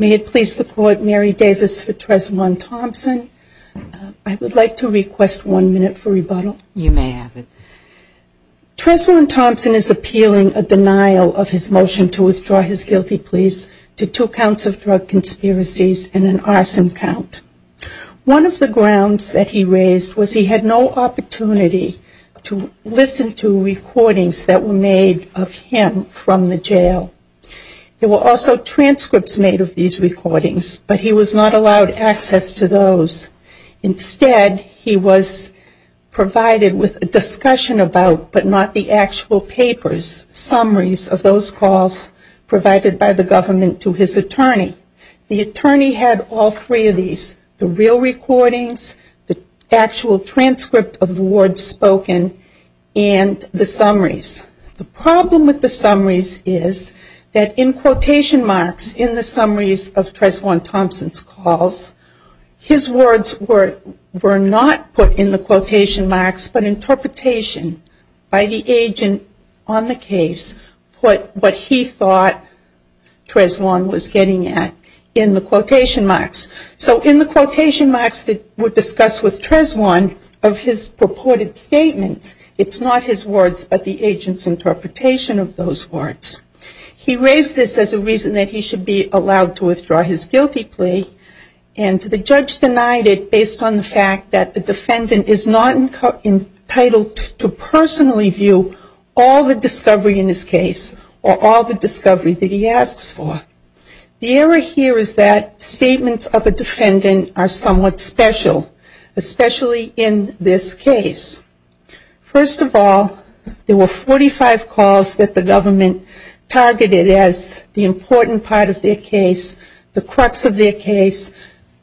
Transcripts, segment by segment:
May it please the Court, Mary Davis for Treswaun Thompson. I would like to request one minute for rebuttal. You may have it. Treswaun Thompson is appealing a denial of his motion to withdraw his guilty pleas to two counts of drug conspiracies and an arson count. One of the grounds that he raised was he had no opportunity to listen to recordings that were made of him from the jail. There were also transcripts made of these recordings, but he was not allowed access to those. Instead, he was provided with a discussion about, but not the actual papers, summaries of those calls provided by the government to his attorney. The attorney had all three of these, the real recordings, the actual transcript of the words spoken, and the summaries. The problem with the summaries is that in quotation marks in the summaries of Treswaun Thompson's calls, his words were not put in the quotation marks. So in the quotation marks that were discussed with Treswaun of his purported statements, it's not his words, but the agent's interpretation of those words. He raised this as a reason that he should be allowed to withdraw his guilty plea, and the judge denied it based on the fact that the defendant is not entitled to personally view all the discovery in his case or all the discovery that he asks for. The error here is that statements of a defendant are somewhat special, especially in this case. First of all, there were 45 calls that the government targeted as the important part of their case, the crux of their case,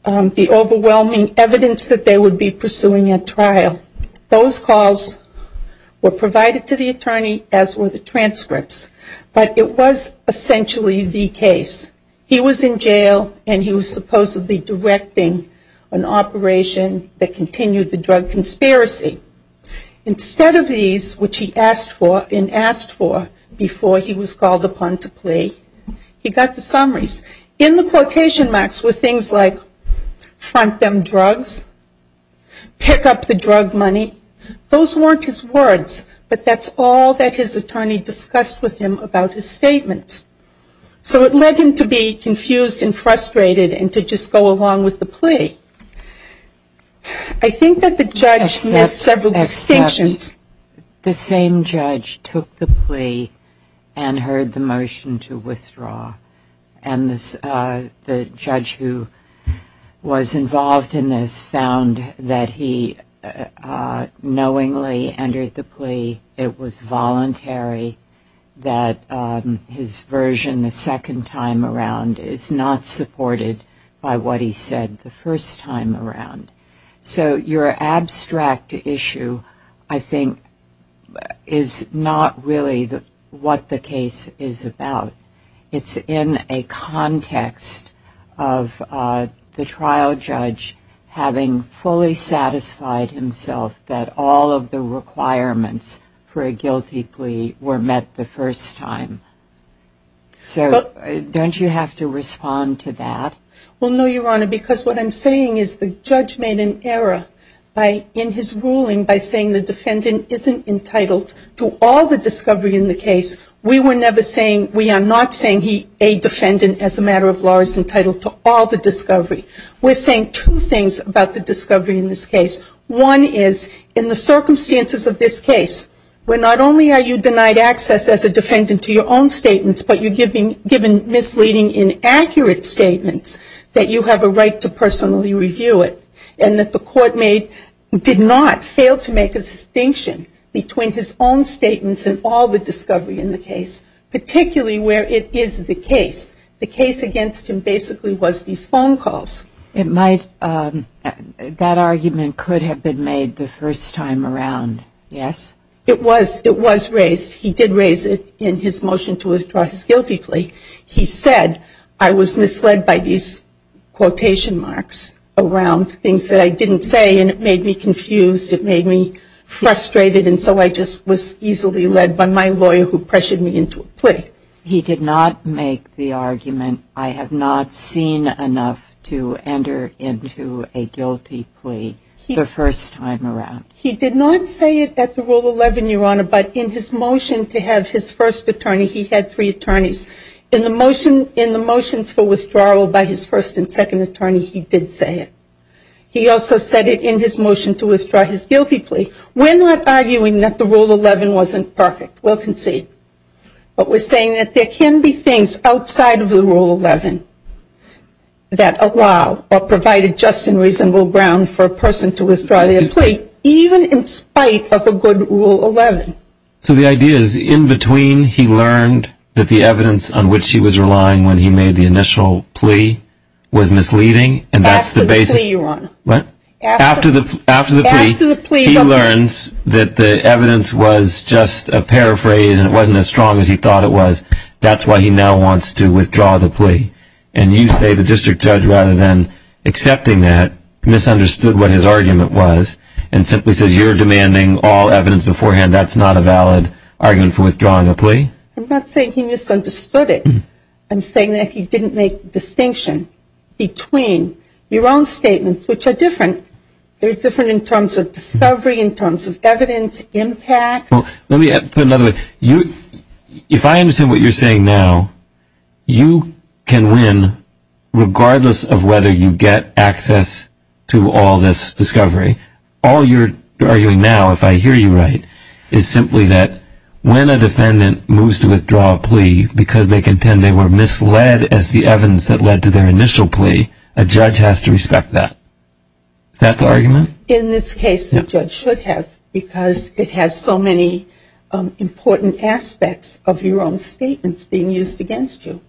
the overwhelming evidence that they would be pursuing at trial. Those calls were provided to the attorney as were the transcripts, but it was essentially the case. He was in jail and he was supposedly directing an operation that continued the drug conspiracy. Instead of these, which he asked for and asked for before he was called upon to plea, he got the money. Those weren't his words, but that's all that his attorney discussed with him about his statements. So it led him to be confused and frustrated and to just go along with the plea. I think that the judge made several distinctions. The same judge took the plea and heard the motion to withdraw, and the judge who was involved in this found that he knowingly entered the plea, it was voluntary, that his version the second time around is not supported by what he said the first time around. So your abstract issue, I think, is not really what the case is about. It's in a context of the trial judge having fully satisfied himself that all of the requirements for a guilty plea were met the first time. So don't you have to respond to that? Well, no, Your Honor, because what I'm saying is the judge made an error in his ruling by saying the defendant isn't entitled to all the discovery in the case. We were never saying, we are not saying he, a defendant as a matter of law, is entitled to all the discovery. We're saying two things about the discovery in this case. One is in the circumstances of this case, where not only are you denied access as a defendant to your own statements, but you're given misleading, inaccurate statements that you have a right to personally review it, and that the court did not fail to make a distinction between his own statements and all the discovery in the case, particularly where it is the case. The case against him basically was these phone calls. It might, that argument could have been made the first time around, yes? It was, it was raised. He did raise it in his motion to withdraw his guilty plea. He said, I was misled by these quotation marks around things that I didn't say, and it made me confused, it made me frustrated, and so I just was easily led by my lawyer who pressured me into a plea. He did not make the argument, I have not seen enough to enter into a guilty plea the first time around. He did not say it at the Rule 11, Your Honor, but in his motion to have his first attorney, he had three attorneys. In the motion, in the motions for withdrawal by his first and second attorney, he did say it. He also said it in his motion to withdraw his guilty plea. We're not arguing that the Rule 11 wasn't perfect. We'll concede. But we're saying that there can be things outside of the Rule 11 that allow or provide a just and reasonable ground for a plea, even in spite of a good Rule 11. So the idea is, in between, he learned that the evidence on which he was relying when he made the initial plea was misleading, and that's the basis. After the plea, Your Honor. After the plea, he learns that the evidence was just a paraphrase and it wasn't as strong as he thought it was, and that's the basis of the plea. So you're saying that he didn't make the distinction between your own statements, which are different. They're different in terms of discovery, in terms of evidence, impact. Well, let me put it another way. If I understand what you're saying now, you can win, regardless of whether you get access to all this discovery. All you're arguing now, if I hear you right, is simply that when a defendant moves to withdraw a plea because they contend they were misled as the evidence that led to their initial plea, a judge has to respect that. Is that the argument? In this case, the judge should have, because it has so many important aspects of your own statements being used against you,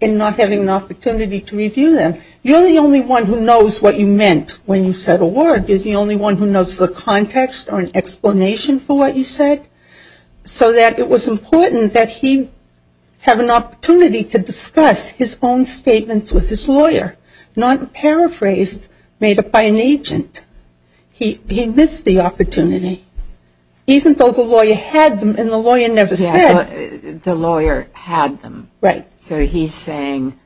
and not having an opportunity to review them. You're the only one who knows what you meant when you said a word. You're the only one who knows the context or an explanation for what you said, so that it was important that he have an opportunity to discuss his own statements with his lawyer, not a paraphrase made up by an agent. He missed the opportunity, even though the lawyer had them, and the lawyer never said. The lawyer had them. Right. So he's saying,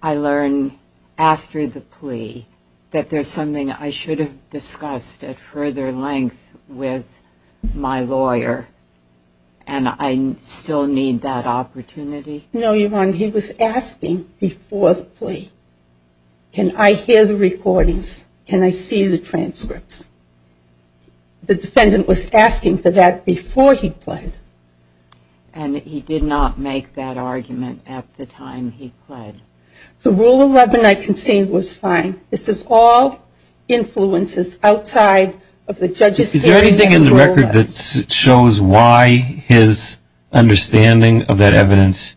I learned after the plea that there's something I should have discussed at further length with my lawyer, and I still need that opportunity? No, Your Honor. He was asking before the plea, can I hear the recordings? Can I see the transcripts? The defendant was asking for that before he pled. And he did not make that argument at the time he pled? The Rule 11 I conceived was fine. This is all influences outside of the judge's hearing. Is there anything in the record that shows why his understanding of that evidence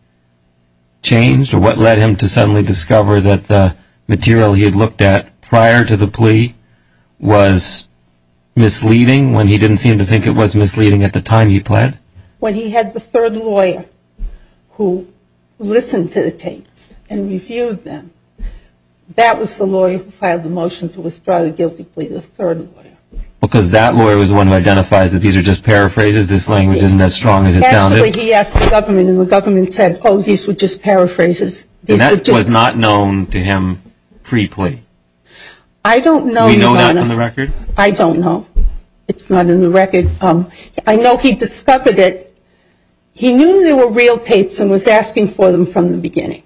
changed, or what led him to suddenly discover that the material he had looked at prior to the plea was misleading, when he didn't seem to think it was misleading at the time he pled? When he had the third lawyer who listened to the tapes and reviewed them, that was the lawyer who filed the motion to withdraw the guilty plea, the third lawyer. Because that lawyer was the one who identifies that these are just paraphrases, this language isn't as strong as it sounded? Actually, he asked the government, and the government said, oh, these were just paraphrases. And that was not known to him pre-plea? I don't know, Your Honor. We know that from the record? I don't know. It's not in the record. I know he discovered it. He knew there were real tapes and was asking for them from the beginning.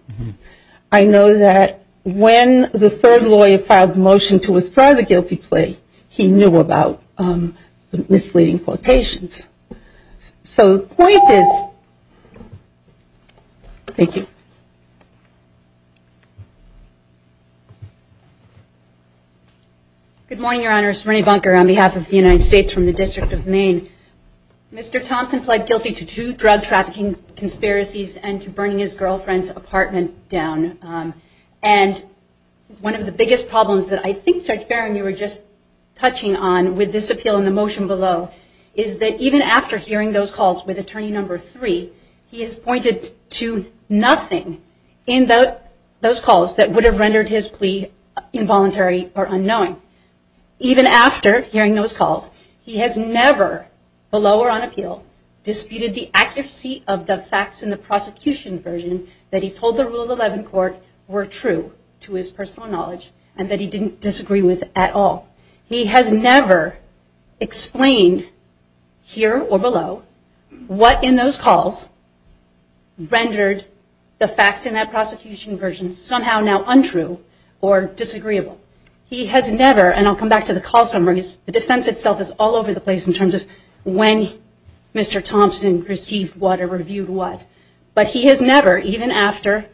I know that when the third lawyer filed the motion to withdraw the guilty plea, he knew about the misleading quotations. So the point is, thank you. Good morning, Your Honor. It's Renee Bunker on behalf of the United States from the District of Maine. Mr. Thompson pled guilty to two drug trafficking conspiracies and to burning his girlfriend's apartment down. And one of the biggest problems that I think, Judge Barron, you were just touching on with this appeal and the motion below is that even after hearing those calls with attorney number three, he has pointed to nothing in those calls that would have rendered his plea involuntary or unknowing. Even after hearing those calls, he has never, below or on appeal, disputed the accuracy of the facts in the prosecution version that he told the Rule 11 court were true to his personal knowledge and that he didn't disagree with at all. He has never explained, here or below, what in those calls rendered the facts in that prosecution version somehow now untrue or disagreeable. He has never, and I'll come back to the call summaries, the defense itself is all over the place in terms of when Mr. Thompson received what or reviewed what. But he has never, even after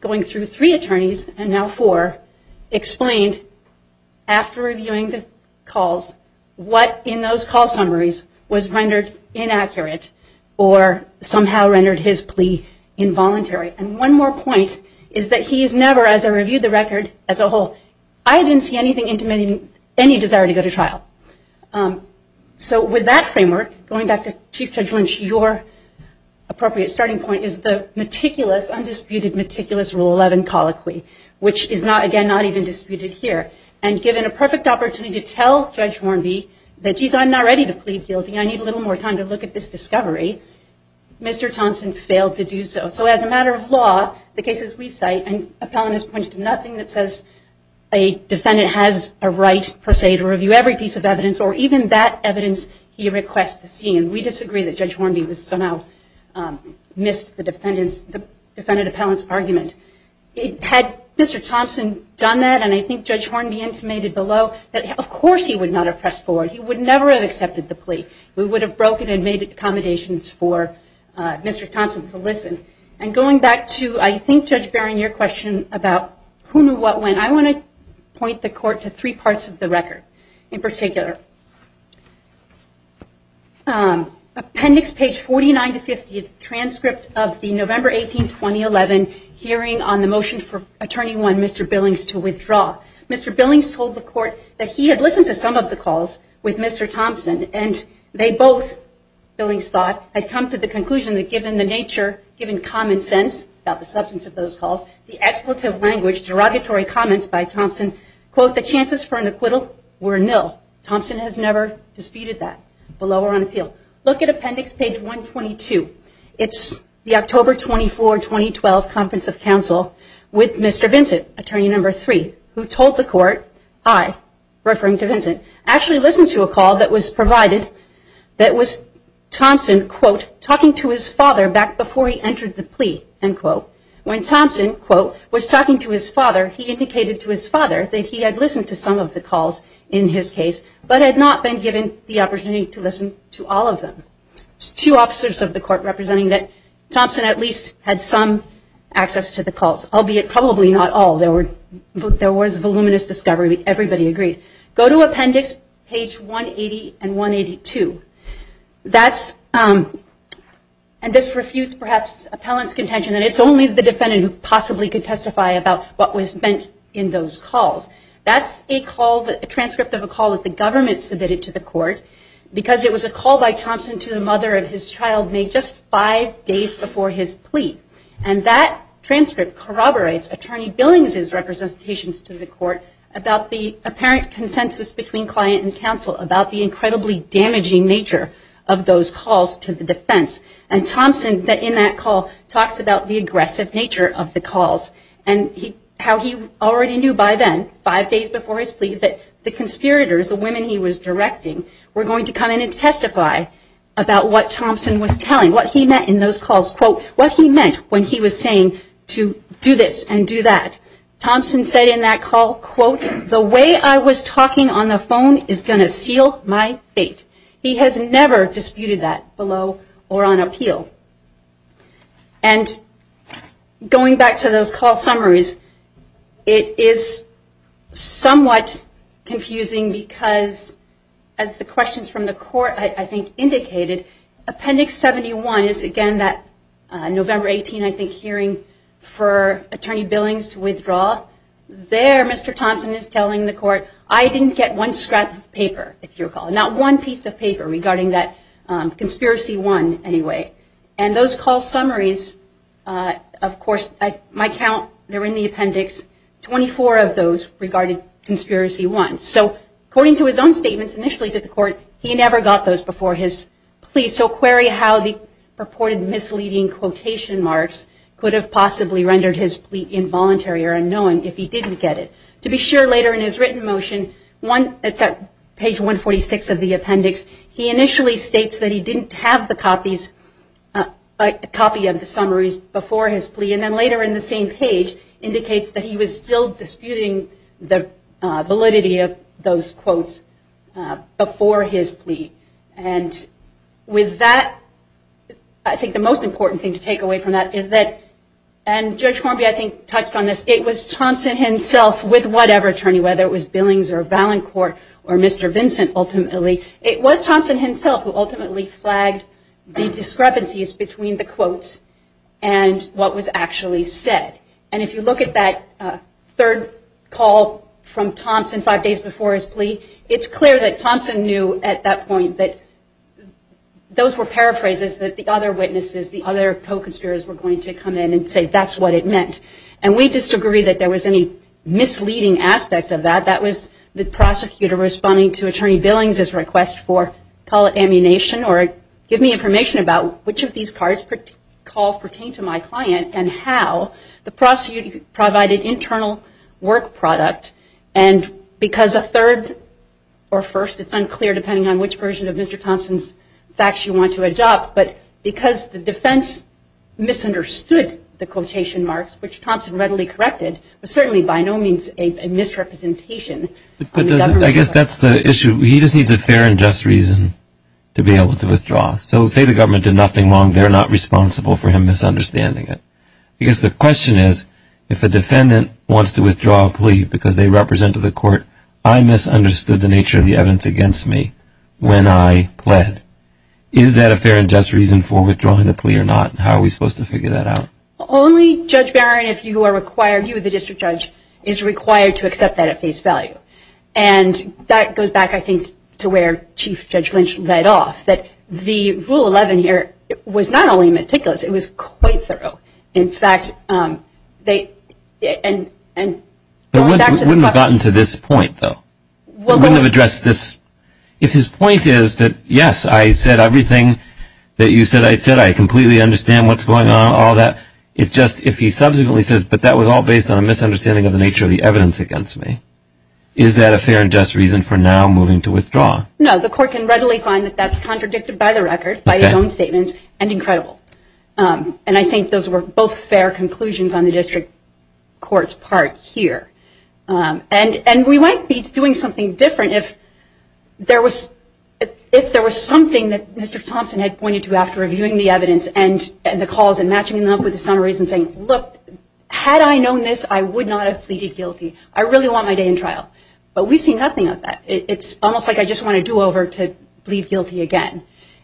going through three attorneys and now four, explained after reviewing the calls what in those call summaries was rendered inaccurate or somehow rendered his plea involuntary. And one more point is that he has never, as I reviewed the record, as a whole, I didn't see anything intimating any desire to go to trial. So with that framework, going back to Chief Judge Lynch, your appropriate starting point is the meticulous, undisputed, meticulous Rule 11 colloquy, which is not, again, not even disputed here. And given a perfect opportunity to tell Judge Hornby that, geez, I'm not ready to plead guilty, I need a little more time to look at this discovery, Mr. Thompson failed to do so. So as a matter of law, the cases we cite, an appellant has pointed to nothing that says a defendant has a right, per se, to review every piece of evidence or even that evidence he requests to see. And we disagree that Judge Hornby somehow missed the defendant appellant's argument. Had Mr. Thompson done that, and I think Judge Hornby intimated below, that of course he would not have pressed forward. He would never have accepted the plea. We would have broken and made accommodations for Mr. Thompson to listen. And going back to, I think, Judge Barron, your question about who knew what when, I want to point the court to three parts of the record in particular. Appendix page 49 to 50 is a transcript of the November 18, 2011 hearing on the motion for Attorney 1, Mr. Billings, to withdraw. Mr. Billings told the court that he had listened to some of the calls with Mr. Thompson, and they both, Billings thought, had come to the conclusion that given the nature, given common sense about the substance of those calls, the expletive language, derogatory comments by Thompson, quote, the chances for an acquittal were nil. Thompson has never disputed that, below or on appeal. Look at appendix page 122. It's the October 24, 2012 Conference of Counsel with Mr. Vincent, attorney number three, who told the court, I, referring to Vincent, actually listened to a call that was provided that was Thompson, quote, talking to his father back before he entered the plea, end quote. When Thompson, quote, was talking to his father, he indicated to his father that he had listened to some of the calls in his case, but had not been given the opportunity to listen to all of them. There's two officers of the court representing that Thompson at least had some access to the calls, albeit probably not all. There was voluminous discovery. Everybody agreed. Go to appendix page 180 and 182. That's, and this refutes perhaps appellant's contention that it's only the defendant who possibly could testify about what was meant in those calls. That's a call, a transcript of a call that the government submitted to the court because it was a call by Thompson to the mother of his child made just five days before his plea. And that transcript corroborates attorney Billings' representations to the court about the apparent consensus between client and counsel about the incredibly damaging nature of those calls to the defense. And Thompson in that call talks about the aggressive nature of the calls and how he already knew by then, five days before his plea, that the conspirators, the women he was directing, were going to come in and testify about what Thompson was telling, what he meant in those calls. Quote, what he meant when he was saying to do this and do that. Thompson said in that call, quote, the way I was talking on the phone is going to seal my fate. He has never disputed that below or on appeal. And going back to those call summaries, it is somewhat confusing because as the questions from the court, I think, indicated, Appendix 71 is, again, that November 18, I think, hearing for attorney Billings to withdraw. There, Mr. Thompson is telling the court, I didn't get one scrap of paper, if you recall, not one piece of paper regarding that Conspiracy 1 anyway. And those call summaries, of course, my count, they're in the appendix, 24 of those regarded Conspiracy 1. So according to his own statements initially to the court, he never got those before his plea. So query how the purported misleading quotation marks could have possibly rendered his plea involuntary or unknown if he didn't get it. To be sure, later in his written motion, it's at page 146 of the appendix, he initially states that he didn't have the copies, a copy of the summaries before his plea. And then later in the same page, indicates that he was still disputing the validity of those quotes before his plea. And with that, I think the most important thing to take away from that is that, and Judge Hornby, I think, touched on this, it was Thompson himself with whatever attorney, whether it was Billings or Valancourt or Mr. Vincent ultimately, it was Thompson himself who ultimately flagged the discrepancies between the quotes and what was actually said. And if you look at that third call from Thompson five days before his plea, it's clear that Thompson knew at that point that those were paraphrases that the other witnesses, the other co-conspirators were going to come in and say that's what it meant. And we disagree that there was any misleading aspect of that. That was the prosecutor responding to Attorney Billings' request for call it ammunition or give me information about which of these calls pertain to my client and how the prosecutor provided internal work product. And because a third or first, it's unclear depending on which version of Mr. Thompson's facts you want to adopt, but because the defense misunderstood the quotation marks, which Thompson readily corrected, but certainly by no means a misrepresentation. I guess that's the issue. He just needs a fair and just reason to be able to withdraw. So say the government did nothing wrong, they're not responsible for him misunderstanding it. Because the question is, if a defendant wants to withdraw a plea because they represented the court, I misunderstood the nature of the evidence against me when I pled. Is that a fair and just reason for withdrawing the plea or not? How are we supposed to figure that out? Only Judge Barron, if you are required, you the district judge, is required to accept that at face value. And that goes back, I think, to where Chief Judge Lynch led off, that the Rule 11 here was not only meticulous, it was quite thorough. In fact, going back to the question. But we wouldn't have gotten to this point, though. We wouldn't have addressed this. If his point is that, yes, I said everything that you said I said, I completely understand what's going on, all that, it's just if he subsequently says, but that was all based on a misunderstanding of the nature of the evidence against me, is that a fair and just reason for now moving to withdraw? No, the court can readily find that that's contradicted by the record, by his own statements, and incredible. And I think those were both fair conclusions on the district court's part here. And we might be doing something different if there was something that Mr. Thompson had pointed to after reviewing the evidence and the calls and matching them up with the summaries and saying, look, had I known this, I would not have pleaded guilty. I really want my day in trial. But we've seen nothing of that. It's almost like I just want to do over to plead guilty again.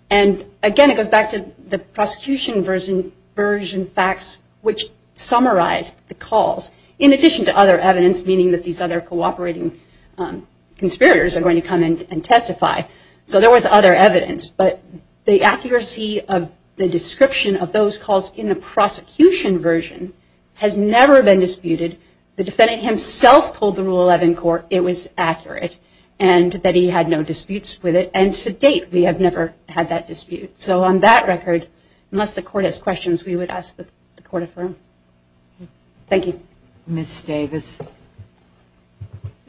And, again, it goes back to the prosecution version facts, which summarized the calls, in addition to other evidence, meaning that these other cooperating conspirators are going to come in and testify. So there was other evidence. But the accuracy of the description of those calls in the prosecution version has never been disputed. The defendant himself told the Rule 11 court it was accurate and that he had no disputes with it. And to date, we have never had that dispute. So on that record, unless the court has questions, we would ask that the court affirm. Thank you. Ms. Davis. The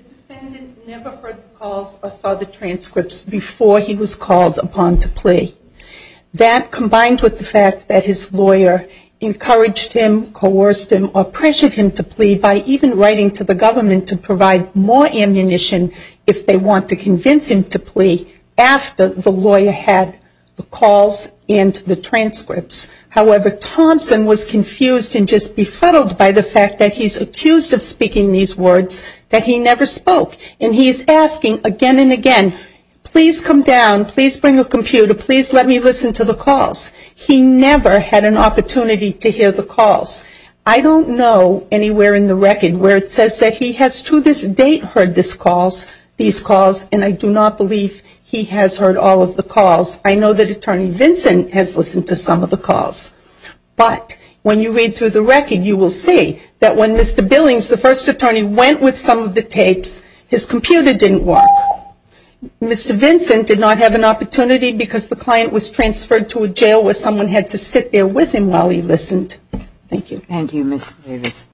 defendant never heard the calls or saw the transcripts before he was called upon to plea. That, combined with the fact that his lawyer encouraged him, coerced him, or pressured him to plea by even writing to the government to provide more ammunition if they want to convince him to plea after the lawyer had the calls and the transcripts. However, Thompson was confused and just befuddled by the fact that he's accused of speaking these words that he never spoke. And he's asking again and again, please come down, please bring a computer, please let me listen to the calls. He never had an opportunity to hear the calls. I don't know anywhere in the record where it says that he has to this date heard these calls and I do not believe he has heard all of the calls. I know that Attorney Vincent has listened to some of the calls. But when you read through the record, you will see that when Mr. Billings, the first attorney, went with some of the tapes, his computer didn't work. Mr. Vincent did not have an opportunity because the client was transferred to a jail where someone had to sit there with him while he listened. Thank you. Thank you, Ms. Davis.